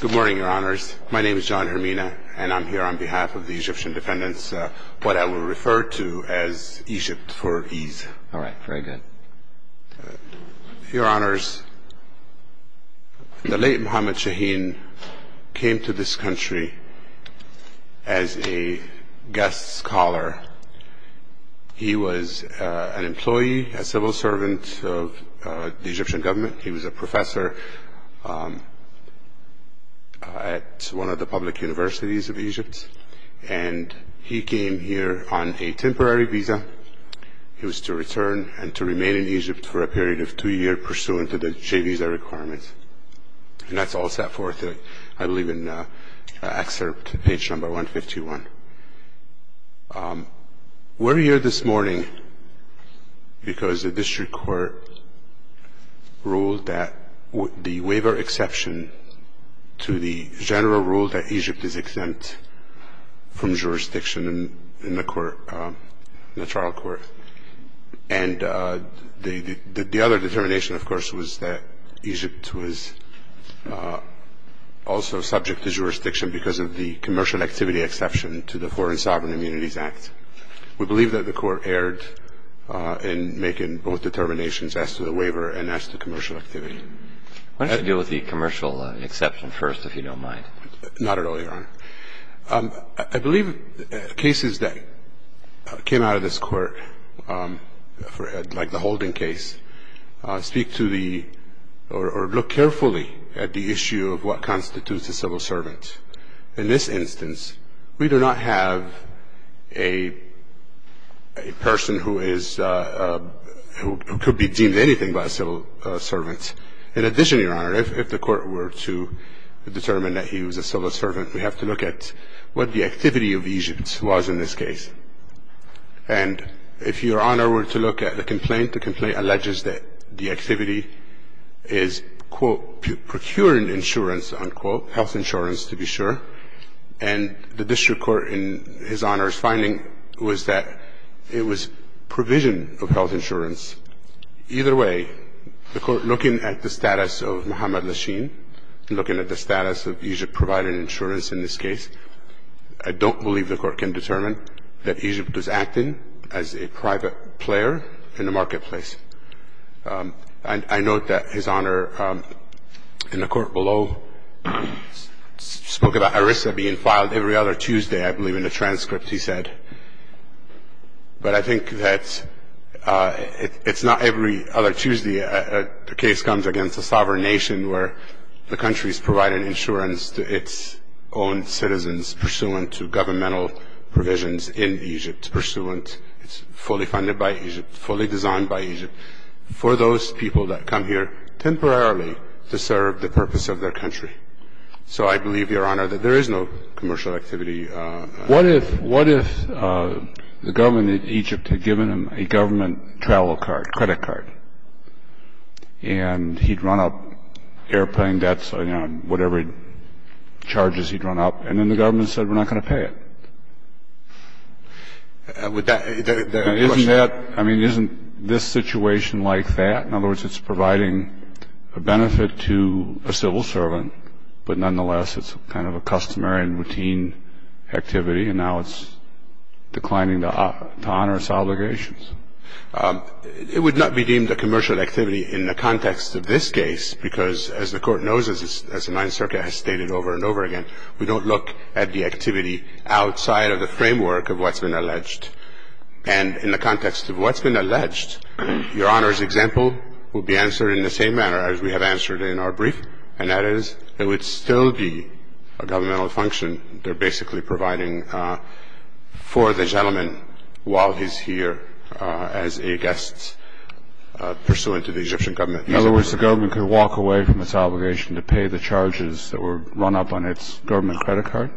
Good morning, your honors. My name is John Hermina, and I'm here on behalf of the Egyptian defendants, what I will refer to as Egypt for ease. All right. Very good. Your honors, the late Mohammed Shaheen came to this country as a guest scholar. He was an employee, a civil servant of the Egyptian government. He was a professor at one of the public universities of Egypt, and he came here on a temporary visa. He was to return and to remain in Egypt for a period of two years pursuant to the J visa requirements. And that's all set forth, I believe, in excerpt page number 151. We're here this morning because the district court ruled that the waiver exception to the general rule that Egypt is exempt from jurisdiction in the court, the trial court, and the other determination, of course, was that Egypt was also subject to jurisdiction because of the commercial activity exception to the Foreign Sovereign Immunities Act. We believe that the court erred in making both determinations as to the waiver and as to commercial activity. Why don't you deal with the commercial exception first, if you don't mind. Not at all, your honor. I believe cases that came out of this court, like the Holden case, speak to the or look carefully at the issue of what constitutes a civil servant. In this instance, we do not have a person who is, who could be deemed anything but a civil servant. In addition, your honor, if the court were to determine that he was a civil servant, we have to look at what the activity of Egypt was in this case. And if your honor were to look at the complaint, the complaint alleges that the activity is, quote, procuring insurance, unquote, health insurance, to be sure. And the district court in his honor's finding was that it was provision of health insurance. Either way, the court, looking at the status of Mohamed Lachin, looking at the status of Egypt providing insurance in this case, I don't believe the court can determine that Egypt was acting as a private player in the marketplace. I note that his honor in the court below spoke about ERISA being filed every other Tuesday, I believe, in a transcript, he said. But I think that it's not every other Tuesday a case comes against a sovereign nation where the country is providing insurance to its own citizens pursuant to governmental provisions in Egypt, pursuant, it's fully funded by Egypt, fully designed by Egypt, for those people that come here temporarily to serve the purpose of their country. So I believe, your honor, that there is no commercial activity. What if the government in Egypt had given him a government travel card, credit card, and he'd run up airplane debts, whatever charges he'd run up, and then the government said, we're not going to pay it? I mean, isn't this situation like that? In other words, it's providing a benefit to a civil servant, but, nonetheless, it's kind of a customary and routine activity, and now it's declining to honor its obligations. It would not be deemed a commercial activity in the context of this case because, as the Court knows, as the Ninth Circuit has stated over and over again, we don't look at the activity outside of the framework of what's been alleged. And in the context of what's been alleged, your honor's example would be answered in the same manner as we have answered in our brief, and that is it would still be a governmental function. They're basically providing for the gentleman while he's here as a guest pursuant to the Egyptian government. In other words, the government could walk away from its obligation to pay the charges that were run up on its government credit card?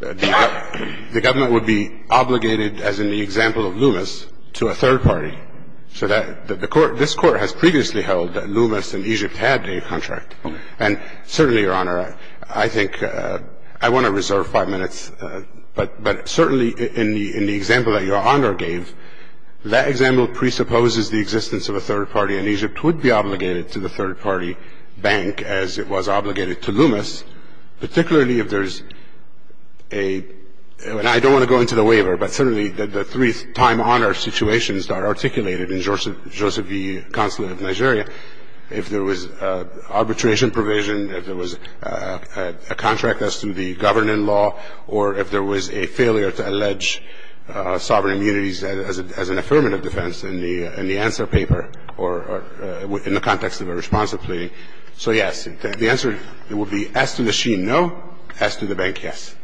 The government would be obligated, as in the example of Loomis, to a third party. So this Court has previously held that Loomis and Egypt had a contract. And certainly, your honor, I think I want to reserve five minutes, but certainly in the example that your honor gave, that example presupposes the existence of a third party, and Egypt would be obligated to the third party bank as it was obligated to Loomis, particularly if there's a – and I don't want to go into the waiver, but certainly the three time honor situations that are articulated in Joseph E. Consulate of Nigeria, if there was arbitration provision, if there was a contract as to the governing law, or if there was a failure to allege sovereign immunities as an affirmative defense in the answer paper or in the context of a responsive plea. So yes, the answer would be S to the sheen, no, S to the bank, yes.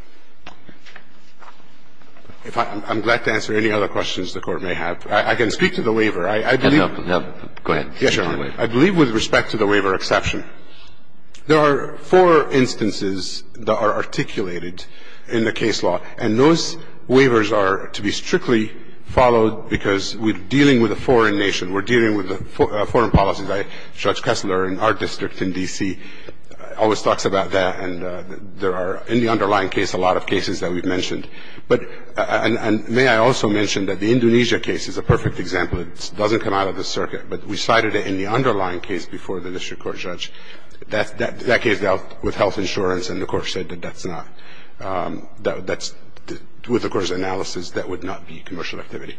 I'm glad to answer any other questions the Court may have. I can speak to the waiver. I believe – Go ahead. Yes, your honor. I believe with respect to the waiver exception, there are four instances that are articulated in the case law, and those waivers are to be strictly followed because we're dealing with a foreign nation, we're dealing with a foreign policy. Judge Kessler in our district in D.C. always talks about that, and there are in the underlying case a lot of cases that we've mentioned. But – and may I also mention that the Indonesia case is a perfect example. It doesn't come out of the circuit, but we cited it in the underlying case before the district court judge. That case dealt with health insurance, and the Court said that that's not – that's – with the Court's analysis, that would not be commercial activity.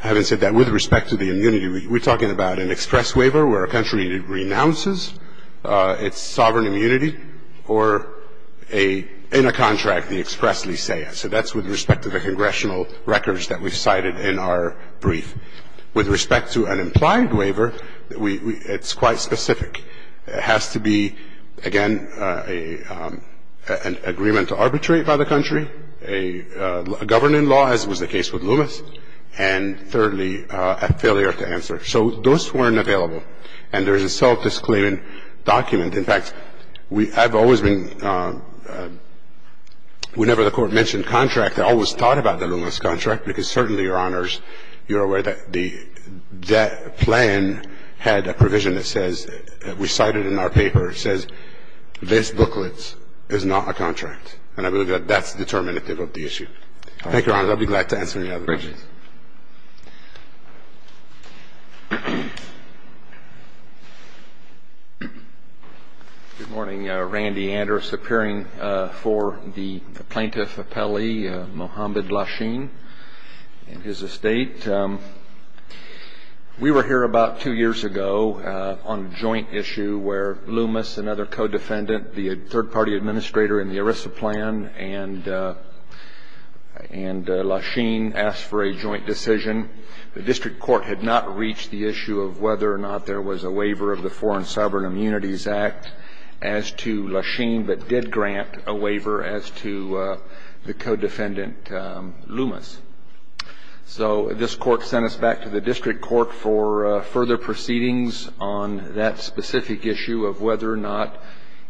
Having said that, with respect to the immunity, we're talking about an express waiver where a country renounces its sovereign immunity or a – in a contract, the express leseia. So that's with respect to the congressional records that we cited in our brief. With respect to an implied waiver, we – it's quite specific. It has to be, again, an agreement to arbitrate by the country, a governing law, and as was the case with Loomis, and, thirdly, a failure to answer. So those weren't available, and there's a self-disclaiming document. In fact, we – I've always been – whenever the Court mentioned contract, I always thought about the Loomis contract because certainly, Your Honors, you're aware that the debt plan had a provision that says – we cited in our paper, it says this booklet is not a contract, and I believe that that's determinative of the issue. Thank you, Your Honor. I'll be glad to answer any other questions. Good morning. Randy Andrus, appearing for the Plaintiff Appellee, Mohamed Lachine, and his estate. We were here about two years ago on a joint issue where Loomis, another co-defendant, the third-party administrator in the ERISA plan, and Lachine asked for a joint decision. The district court had not reached the issue of whether or not there was a waiver of the Foreign Sovereign Immunities Act as to Lachine, but did grant a waiver as to the co-defendant Loomis. So this court sent us back to the district court for further proceedings on that specific issue of whether or not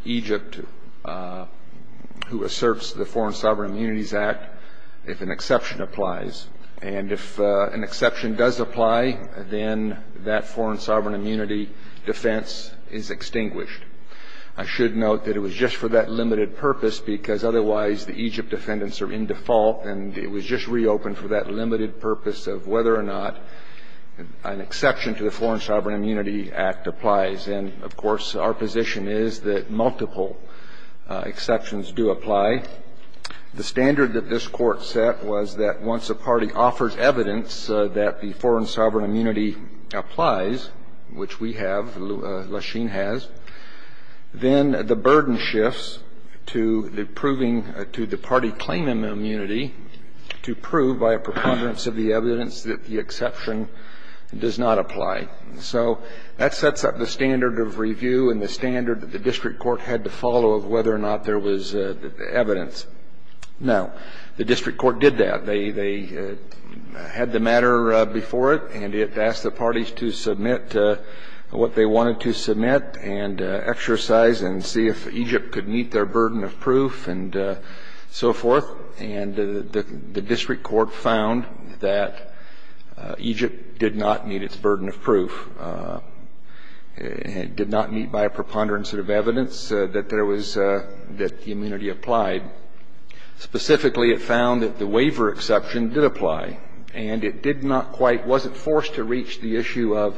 Egypt, who asserts the Foreign Sovereign Immunities Act, if an exception applies. And if an exception does apply, then that Foreign Sovereign Immunity defense is extinguished. I should note that it was just for that limited purpose because otherwise the Egypt defendants are in default, and it was just reopened for that limited purpose of whether or not an exception to the Foreign Sovereign Immunity Act applies. And, of course, our position is that multiple exceptions do apply. The standard that this Court set was that once a party offers evidence that the Foreign Sovereign Immunity applies, which we have, Lachine has, then the burden shifts to the proving to the party claiming immunity to prove by a preponderance of the evidence that the exception does not apply. So that sets up the standard of review and the standard that the district court had to follow of whether or not there was evidence. Now, the district court did that. They had the matter before it, and it asked the parties to submit what they wanted to submit and exercise and see if Egypt could meet their burden of proof and so forth. And the district court found that Egypt did not meet its burden of proof. It did not meet by a preponderance of evidence that there was the immunity applied. Specifically, it found that the waiver exception did apply. And it did not quite, wasn't forced to reach the issue of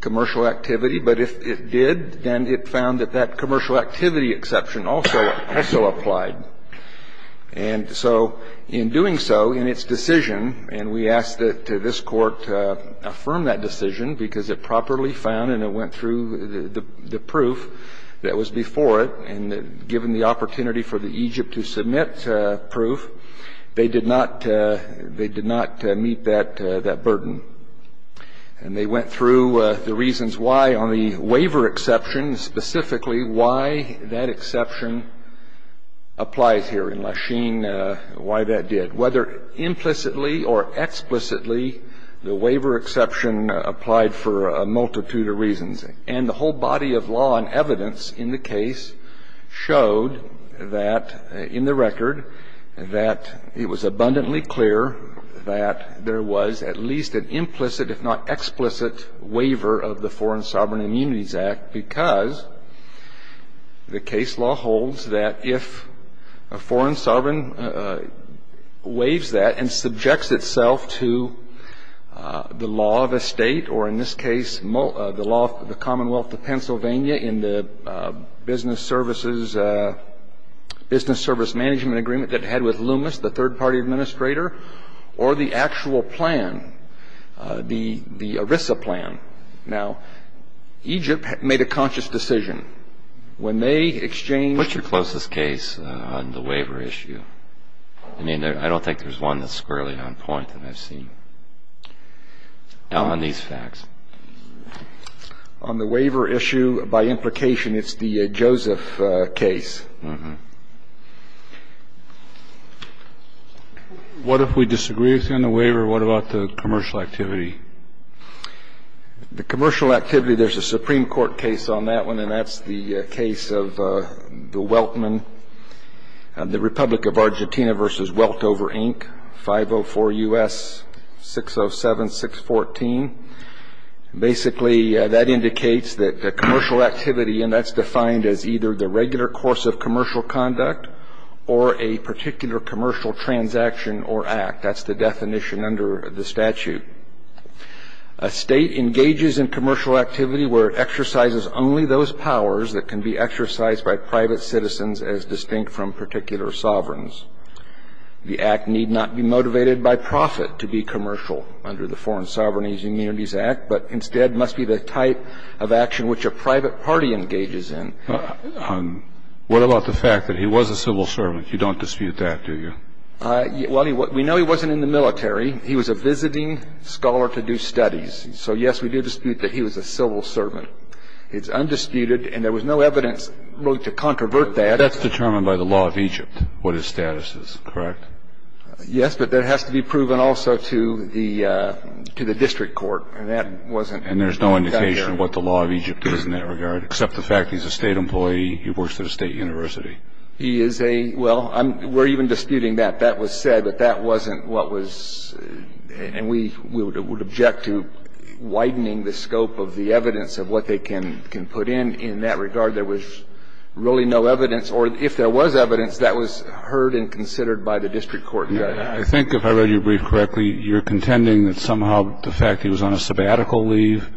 commercial activity. But if it did, then it found that that commercial activity exception also applied. And so in doing so, in its decision, and we asked that this Court affirm that decision because it properly found and it went through the proof that was before it, and given the opportunity for Egypt to submit proof, they did not meet that burden. And they went through the reasons why on the waiver exception, specifically why that exception applies here in Lachine, why that did. Whether implicitly or explicitly, the waiver exception applied for a multitude of reasons. And the whole body of law and evidence in the case showed that, in the record, that it was abundantly clear that there was at least an implicit, if not explicit, waiver of the Foreign Sovereign Immunities Act because the case law holds that if a foreign sovereign waives that and subjects itself to the law of a State, or in this case, the law of the Commonwealth of Pennsylvania in the business services, business service management agreement that it had with Loomis, the third-party administrator, or the actual plan, the ERISA plan. Now, Egypt made a conscious decision. When they exchanged... What's your closest case on the waiver issue? I mean, I don't think there's one that's squarely on point that I've seen on these facts. On the waiver issue, by implication, it's the Joseph case. What if we disagree with you on the waiver? What about the commercial activity? The commercial activity, there's a Supreme Court case on that one, and that's the case of the Weltman, the Republic of Argentina v. Weltover, Inc., 504 U.S. 607-614. Basically, that indicates that the commercial activity, and that's defined as either the regular course of commercial conduct or a particular commercial transaction or act. That's the definition under the statute. A State engages in commercial activity where it exercises only those powers that can be exercised by private citizens as distinct from particular sovereigns. The act need not be motivated by profit to be commercial under the Foreign Sovereign but instead must be the type of action which a private party engages in. What about the fact that he was a civil servant? You don't dispute that, do you? Well, we know he wasn't in the military. He was a visiting scholar to do studies. So, yes, we do dispute that he was a civil servant. It's undisputed, and there was no evidence really to controvert that. But that's determined by the law of Egypt, what his status is, correct? Yes, but that has to be proven also to the district court, and that wasn't done there. And there's no indication of what the law of Egypt is in that regard, except the fact he's a State employee who works at a State university. He is a – well, we're even disputing that. That was said, but that wasn't what was – and we would object to widening the scope of the evidence of what they can put in. In that regard, there was really no evidence, or if there was evidence, that was heard and considered by the district court. I think, if I read your brief correctly, you're contending that somehow the fact he was on a sabbatical leave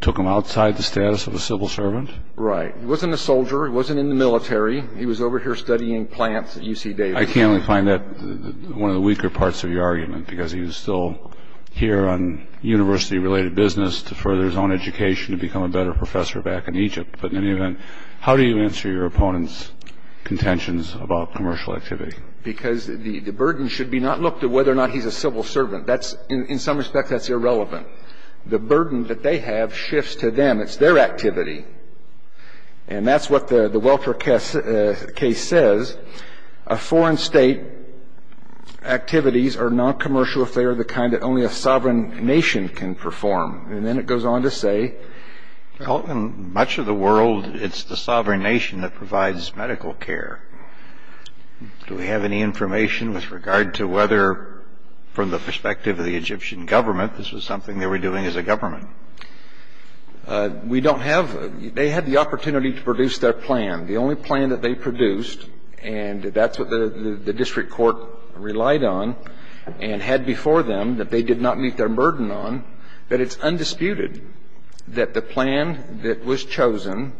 took him outside the status of a civil servant? Right. He wasn't a soldier. He wasn't in the military. He was over here studying plants at UC Davis. I can only find that one of the weaker parts of your argument, because he was still here on university-related business to further his own education and become a better professor back in Egypt. But in any event, how do you answer your opponent's contentions about commercial activity? Because the burden should be not looked at whether or not he's a civil servant. That's – in some respects, that's irrelevant. The burden that they have shifts to them. It's their activity. And that's what the Welter case says. Foreign State activities are noncommercial if they are the kind that only a sovereign nation can perform. And then it goes on to say – Well, in much of the world, it's the sovereign nation that provides medical care. Do we have any information with regard to whether, from the perspective of the Egyptian government, this was something they were doing as a government? We don't have – they had the opportunity to produce their plan. The only plan that they produced, and that's what the district court relied on and had before them that they did not meet their burden on, that it's undisputed that the plan that was chosen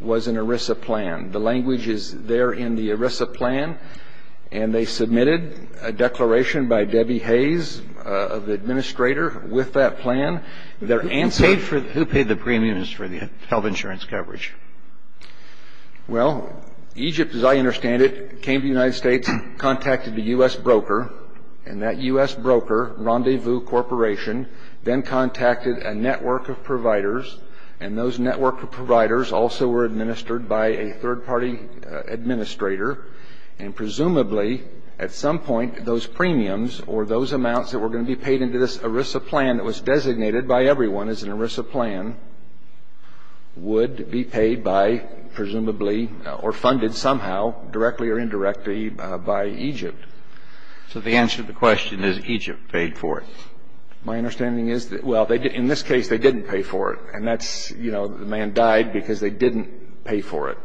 was an ERISA plan. The language is there in the ERISA plan. And they submitted a declaration by Debbie Hayes, the administrator, with that plan. Their answer – Who paid for – who paid the premiums for the health insurance coverage? Well, Egypt, as I understand it, came to the United States, contacted the U.S. broker, and that U.S. broker, Rendezvous Corporation, then contacted a network of providers. And those network of providers also were administered by a third-party administrator. And presumably, at some point, those premiums or those amounts that were going to be paid into this ERISA plan that was designated by everyone as an ERISA plan would be paid by, presumably, or funded somehow, directly or indirectly, by Egypt. So the answer to the question is Egypt paid for it. My understanding is that – well, in this case, they didn't pay for it. And that's, you know, the man died because they didn't pay for it.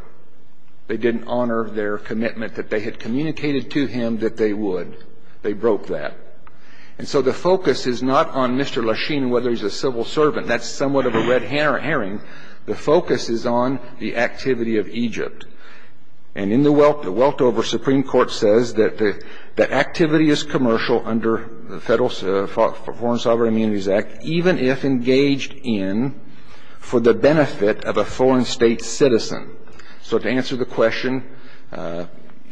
They didn't honor their commitment that they had communicated to him that they would. They broke that. And so the focus is not on Mr. Lasheen and whether he's a civil servant. That's somewhat of a red herring. The focus is on the activity of Egypt. And in the Weltover, Supreme Court says that the activity is commercial under the Federal Foreign Sovereign Immunities Act, even if engaged in for the benefit of a foreign state citizen. So to answer the question,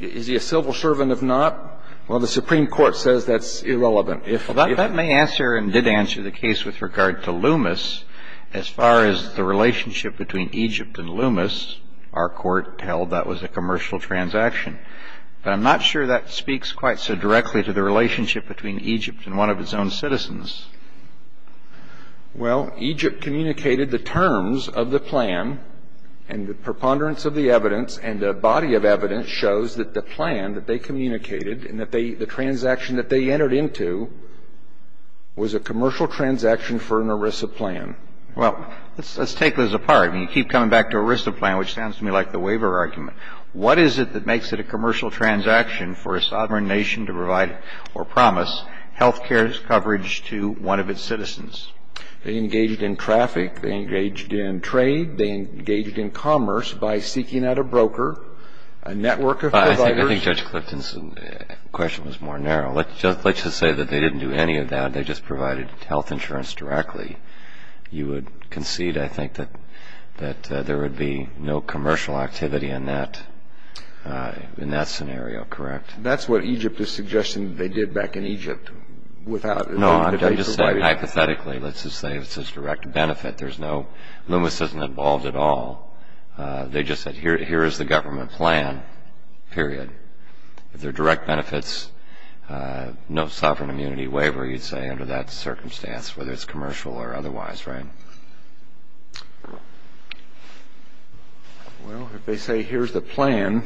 is he a civil servant or not, well, the Supreme Court says that's irrelevant. Well, that may answer and did answer the case with regard to Loomis. As far as the relationship between Egypt and Loomis, our court held that was a commercial transaction. But I'm not sure that speaks quite so directly to the relationship between Egypt and one of its own citizens. Well, Egypt communicated the terms of the plan and the preponderance of the evidence and the body of evidence shows that the plan that they communicated and that the transaction that they entered into was a commercial transaction for an ERISA plan. Well, let's take those apart. I mean, you keep coming back to ERISA plan, which sounds to me like the waiver argument. What is it that makes it a commercial transaction for a sovereign nation to provide or promise health care coverage to one of its citizens? They engaged in traffic. They engaged in trade. They engaged in commerce by seeking out a broker, a network of providers. Well, I think Judge Clifton's question was more narrow. Let's just say that they didn't do any of that. They just provided health insurance directly. You would concede, I think, that there would be no commercial activity in that scenario, correct? That's what Egypt is suggesting they did back in Egypt. No, I'm just saying hypothetically. Let's just say it's a direct benefit. Loomis isn't involved at all. They just said here is the government plan, period. If they're direct benefits, no sovereign immunity waiver, you'd say, under that circumstance, whether it's commercial or otherwise, right? Well, if they say here's the plan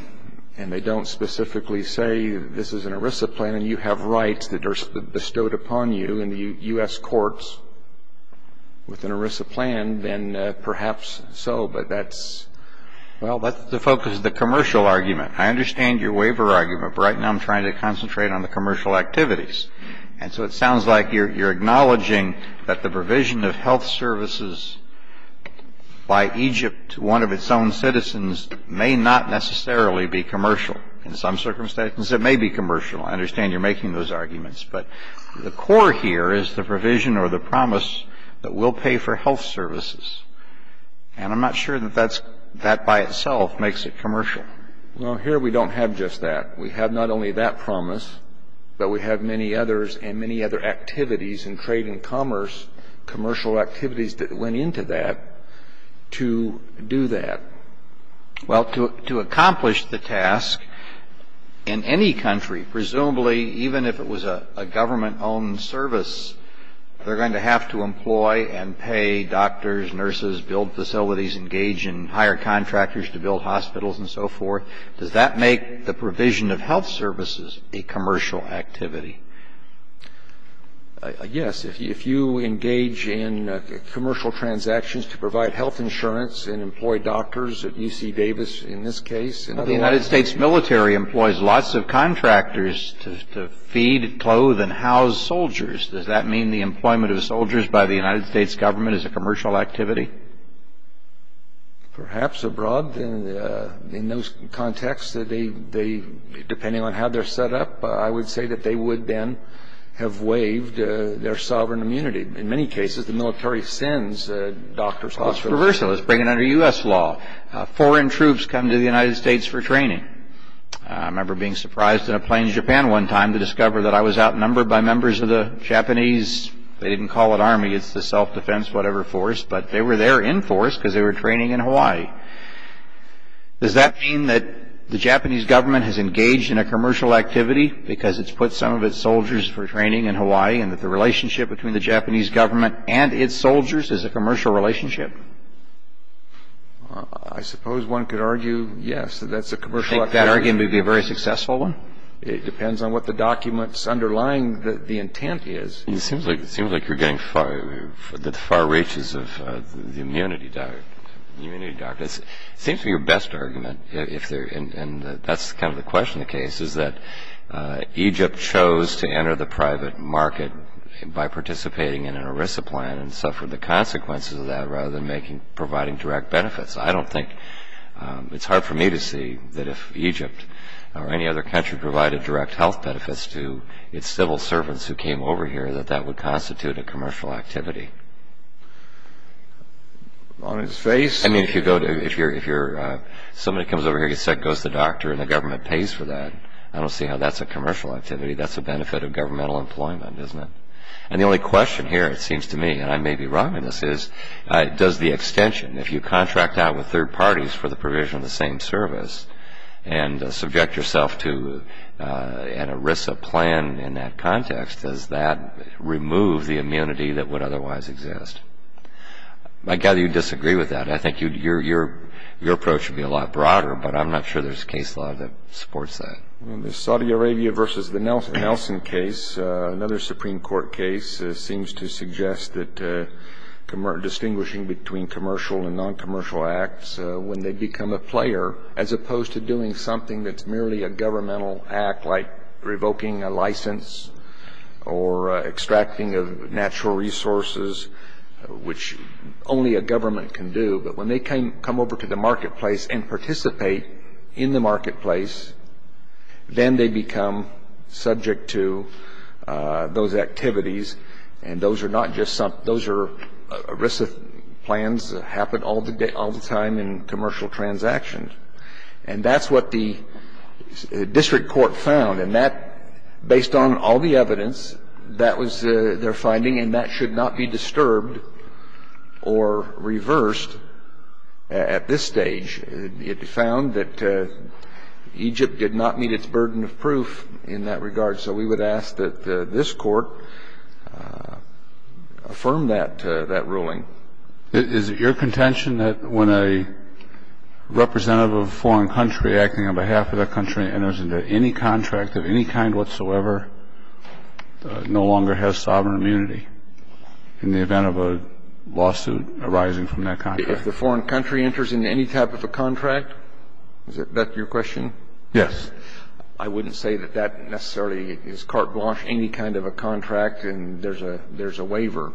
and they don't specifically say this is an ERISA plan and you have rights that are bestowed upon you in the U.S. courts with an ERISA plan, then perhaps so. But that's, well, that's the focus of the commercial argument. I understand your waiver argument, but right now I'm trying to concentrate on the commercial activities. And so it sounds like you're acknowledging that the provision of health services by Egypt to one of its own citizens may not necessarily be commercial. In some circumstances, it may be commercial. I understand you're making those arguments. But the core here is the provision or the promise that we'll pay for health services. And I'm not sure that that by itself makes it commercial. Well, here we don't have just that. We have not only that promise, but we have many others and many other activities in trade and commerce, commercial activities that went into that to do that. Well, to accomplish the task, in any country, presumably even if it was a government-owned service, they're going to have to employ and pay doctors, nurses, build facilities, engage in higher contractors to build hospitals and so forth. Does that make the provision of health services a commercial activity? Yes. If you engage in commercial transactions to provide health insurance and employ doctors at UC Davis, in this case. The United States military employs lots of contractors to feed, clothe and house soldiers. Does that mean the employment of soldiers by the United States government is a commercial activity? Perhaps abroad in those contexts, depending on how they're set up, I would say that they would then have waived their sovereign immunity. In many cases, the military sends doctors, hospitals. Let's bring it under U.S. law. Foreign troops come to the United States for training. I remember being surprised in a plane in Japan one time to discover that I was outnumbered by members of the Japanese, they didn't call it army, it's the self-defense whatever force, but they were there in force because they were training in Hawaii. Does that mean that the Japanese government has engaged in a commercial activity because it's put some of its soldiers for training in Hawaii and that the relationship between the Japanese government and its soldiers is a commercial relationship? I suppose one could argue, yes, that that's a commercial activity. You think that argument would be a very successful one? It depends on what the documents underlying the intent is. It seems like you're getting far reaches of the immunity doctrine. It seems to be your best argument, and that's kind of the question of the case, is that Egypt chose to enter the private market by participating in an ERISA plan and suffered the consequences of that rather than providing direct benefits. I don't think it's hard for me to see that if Egypt or any other country provided direct health benefits to its civil servants who came over here that that would constitute a commercial activity. On its face? I mean, if somebody comes over here, goes to the doctor, and the government pays for that, I don't see how that's a commercial activity. That's a benefit of governmental employment, isn't it? And the only question here, it seems to me, and I may be wrong in this, is does the extension, if you contract out with third parties for the provision of the same service and subject yourself to an ERISA plan in that context, does that remove the immunity that would otherwise exist? I gather you disagree with that. I think your approach would be a lot broader, but I'm not sure there's a case law that supports that. In the Saudi Arabia versus the Nelson case, another Supreme Court case seems to suggest that distinguishing between commercial and non-commercial acts when they become a player, as opposed to doing something that's merely a governmental act like revoking a license or extracting of natural resources, which only a government can do. And I think that the reason that the court is considering that is the reason that the court is not saying that they can't do it, but when they come over to the marketplace and participate in the marketplace, then they become subject to those activities, and those are not just some of those are ERISA plans that happen all the time in commercial transactions. And that's what the district court found, and that, based on all the evidence, that was their finding and that should not be disturbed or reversed at this stage. It found that Egypt did not meet its burden of proof in that regard, so we would ask that this court affirm that ruling. Is it your contention that when a representative of a foreign country acting on behalf of that country enters into any contract of any kind whatsoever, no longer has sovereign immunity in the event of a lawsuit arising from that contract? If the foreign country enters into any type of a contract, is that your question? Yes. I wouldn't say that that necessarily is carte blanche, any kind of a contract, and there's a waiver.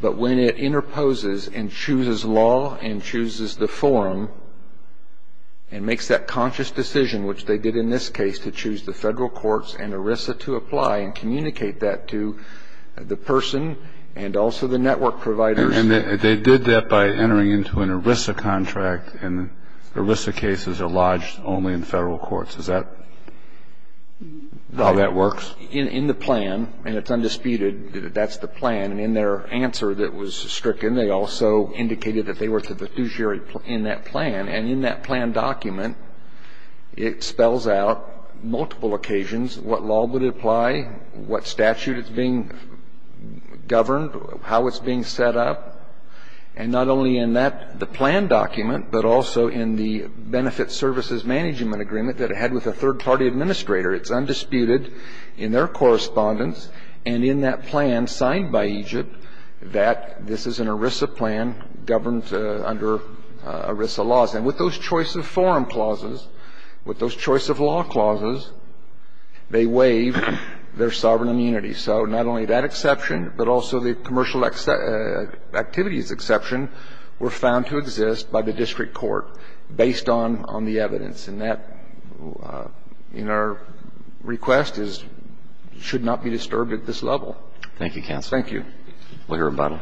But when it interposes and chooses law and chooses the forum and makes that conscious decision, which they did in this case to choose the federal courts and ERISA to apply and communicate that to the person and also the network providers. And they did that by entering into an ERISA contract, and the ERISA cases are lodged only in federal courts. Is that how that works? In the plan, and it's undisputed that that's the plan. And in their answer that was stricken, they also indicated that they were to the fiduciary in that plan. And in that plan document, it spells out multiple occasions what law would apply, what statute is being governed, how it's being set up. And not only in that, the plan document, but also in the benefit services management agreement that it had with a third-party administrator. It's undisputed in their correspondence and in that plan signed by Egypt that this is an ERISA plan governed under ERISA laws. And with those choice of forum clauses, with those choice of law clauses, they waive their sovereign immunity. So not only that exception, but also the commercial activities exception were found to exist by the district court based on the evidence. And that, in our request, should not be disturbed at this level. Thank you, counsel. Thank you. We'll hear about it.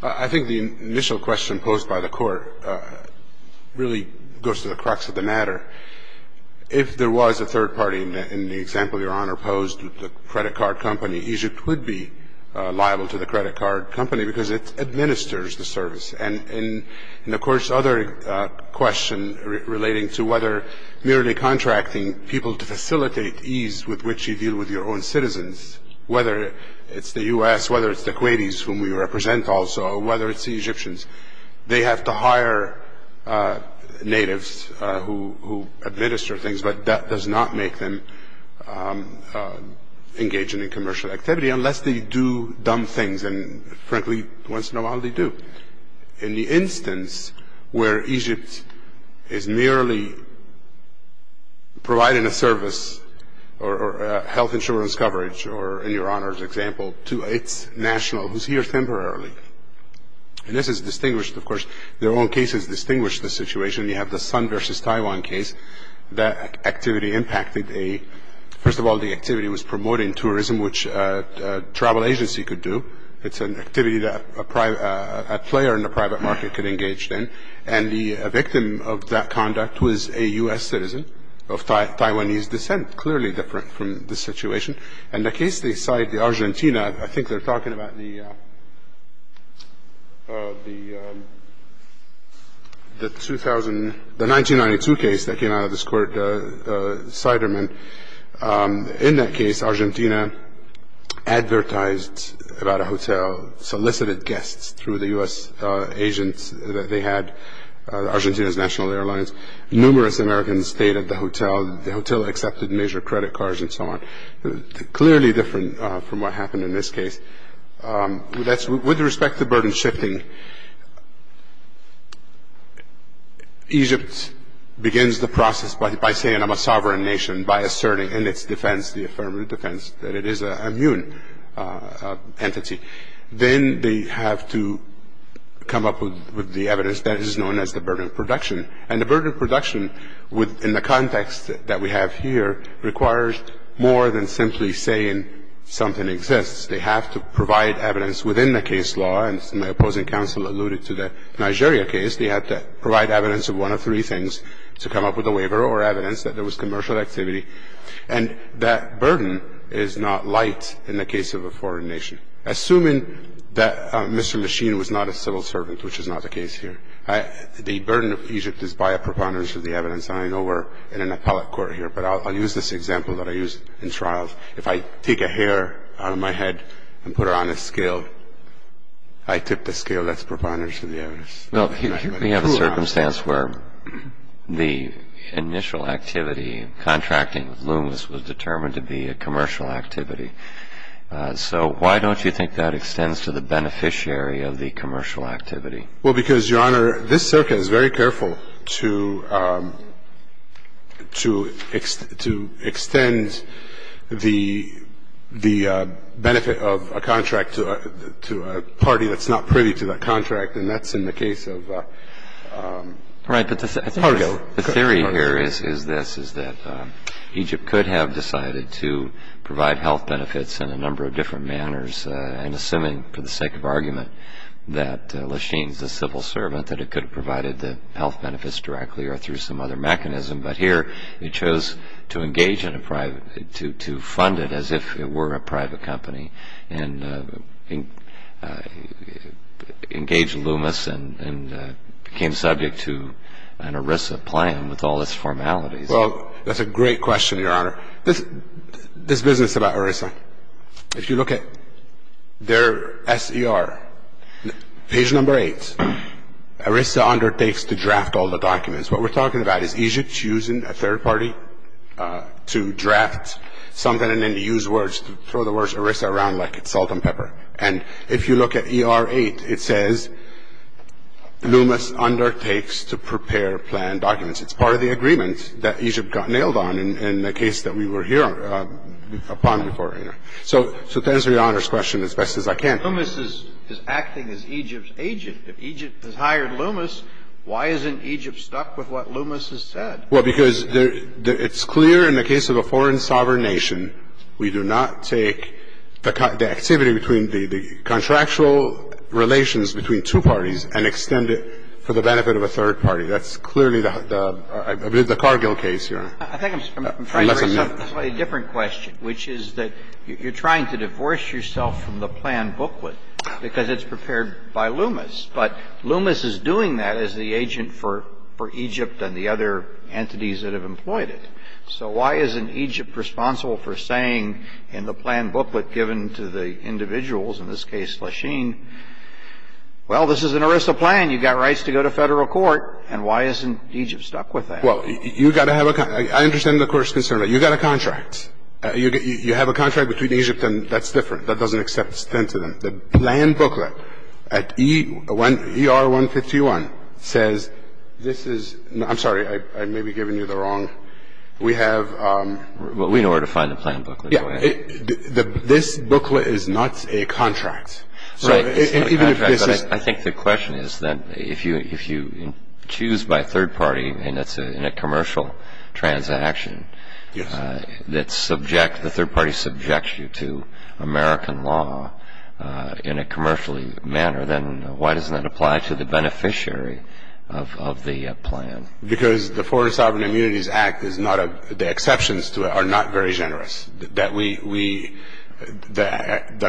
I think the initial question posed by the Court really goes to the crux of the matter. If there was a third party in the example Your Honor posed, the credit card company, Egypt would be liable to the credit card company because it administers the service. And, of course, other question relating to whether merely contracting people to facilitate ease with which you deal with your own citizens, whether it's the U.S., whether it's the Kuwaitis whom we represent also, or whether it's the Egyptians. They have to hire natives who administer things, but that does not make them engage in a commercial activity unless they do dumb things. And, frankly, once in a while they do. In the instance where Egypt is merely providing a service or health insurance coverage, or in Your Honor's example, to its national, who's here temporarily. And this is distinguished, of course. Their own cases distinguish the situation. You have the Sun versus Taiwan case. That activity impacted a, first of all, the activity was promoting tourism, which a travel agency could do. It's an activity that a player in the private market could engage in. And the victim of that conduct was a U.S. citizen of Taiwanese descent, clearly different from the situation. And the case they cite, the Argentina, I think they're talking about the 2000, the 1992 case that came out of this court, Siderman. In that case, Argentina advertised about a hotel, solicited guests through the U.S. agents that they had, Argentina's national airlines. Numerous Americans stayed at the hotel. The hotel accepted major credit cards and so on. Clearly different from what happened in this case. With respect to burden shifting, Egypt begins the process by saying I'm a sovereign nation, by asserting in its defense, the affirmative defense, that it is an immune entity. Then they have to come up with the evidence that is known as the burden of production. And the burden of production in the context that we have here requires more than simply saying something exists. They have to provide evidence within the case law. And my opposing counsel alluded to the Nigeria case. They have to provide evidence of one of three things to come up with a waiver or evidence that there was commercial activity. And that burden is not light in the case of a foreign nation. Assuming that Mr. Machine was not a civil servant, which is not the case here, the burden of Egypt is by a preponderance of the evidence. And I know we're in an appellate court here, but I'll use this example that I used in trials. If I take a hair out of my head and put it on a scale, I tip the scale that's preponderance of the evidence. Well, here we have a circumstance where the initial activity, contracting with Loomis, was determined to be a commercial activity. So why don't you think that extends to the beneficiary of the commercial activity? Well, because, Your Honor, this circuit is very careful to extend the benefit of a contract to a party that's not privy to that contract, and that's in the case of Pargo. Right. But the theory here is this, is that Egypt could have decided to provide health that it could have provided the health benefits directly or through some other mechanism, but here it chose to engage in a private to fund it as if it were a private company and engaged Loomis and became subject to an ERISA plan with all its formalities. Well, that's a great question, Your Honor. This business about ERISA, if you look at their S.E.R., page number eight, ERISA undertakes to draft all the documents. What we're talking about is Egypt choosing a third party to draft something and then to use words to throw the words ERISA around like salt and pepper. And if you look at E.R. 8, it says Loomis undertakes to prepare planned documents. It's part of the agreement that Egypt got nailed on in the case that we were here upon before, Your Honor. So to answer Your Honor's question as best as I can. Loomis is acting as Egypt's agent. If Egypt has hired Loomis, why isn't Egypt stuck with what Loomis has said? Well, because it's clear in the case of a foreign sovereign nation, we do not take the activity between the contractual relations between two parties and extend it for the benefit of a third party. That's clearly the Cargill case, Your Honor. I think I'm trying to raise a slightly different question, which is that you're trying to divorce yourself from the planned booklet because it's prepared by Loomis. But Loomis is doing that as the agent for Egypt and the other entities that have employed it. So why isn't Egypt responsible for saying in the planned booklet given to the individuals, in this case Lasheen, well, this is an ERISA plan, you've got rights to go to Federal court, and why isn't Egypt stuck with that? Well, you've got to have a contract. I understand the Court's concern, but you've got a contract. You have a contract between Egypt and that's different. That doesn't extend to them. The planned booklet at ER-151 says this is not – I'm sorry. I may be giving you the wrong – we have – Well, we know where to find the planned booklet. Yeah. This booklet is not a contract. Right. I think the question is that if you choose by third party and it's in a commercial transaction that subject – the third party subjects you to American law in a commercially manner, then why doesn't that apply to the beneficiary of the plan? Because the Foreign Sovereign Immunities Act is not a – the exceptions to it are not very generous. The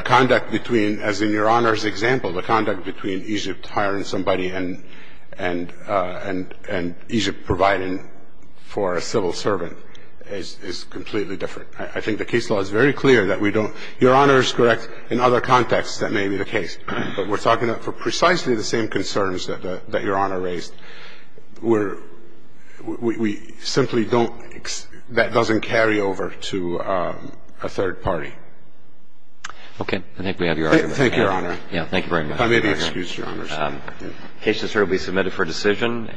conduct between – as in Your Honor's example, the conduct between Egypt hiring somebody and Egypt providing for a civil servant is completely different. I think the case law is very clear that we don't – Your Honor is correct. In other contexts, that may be the case. But we're talking about precisely the same concerns that Your Honor raised. We're – we simply don't – that doesn't carry over to a third party. Okay. I think we have Your Honor. Thank you, Your Honor. Yeah. Thank you very much. If I may be excused, Your Honor. The case is hereby submitted for decision.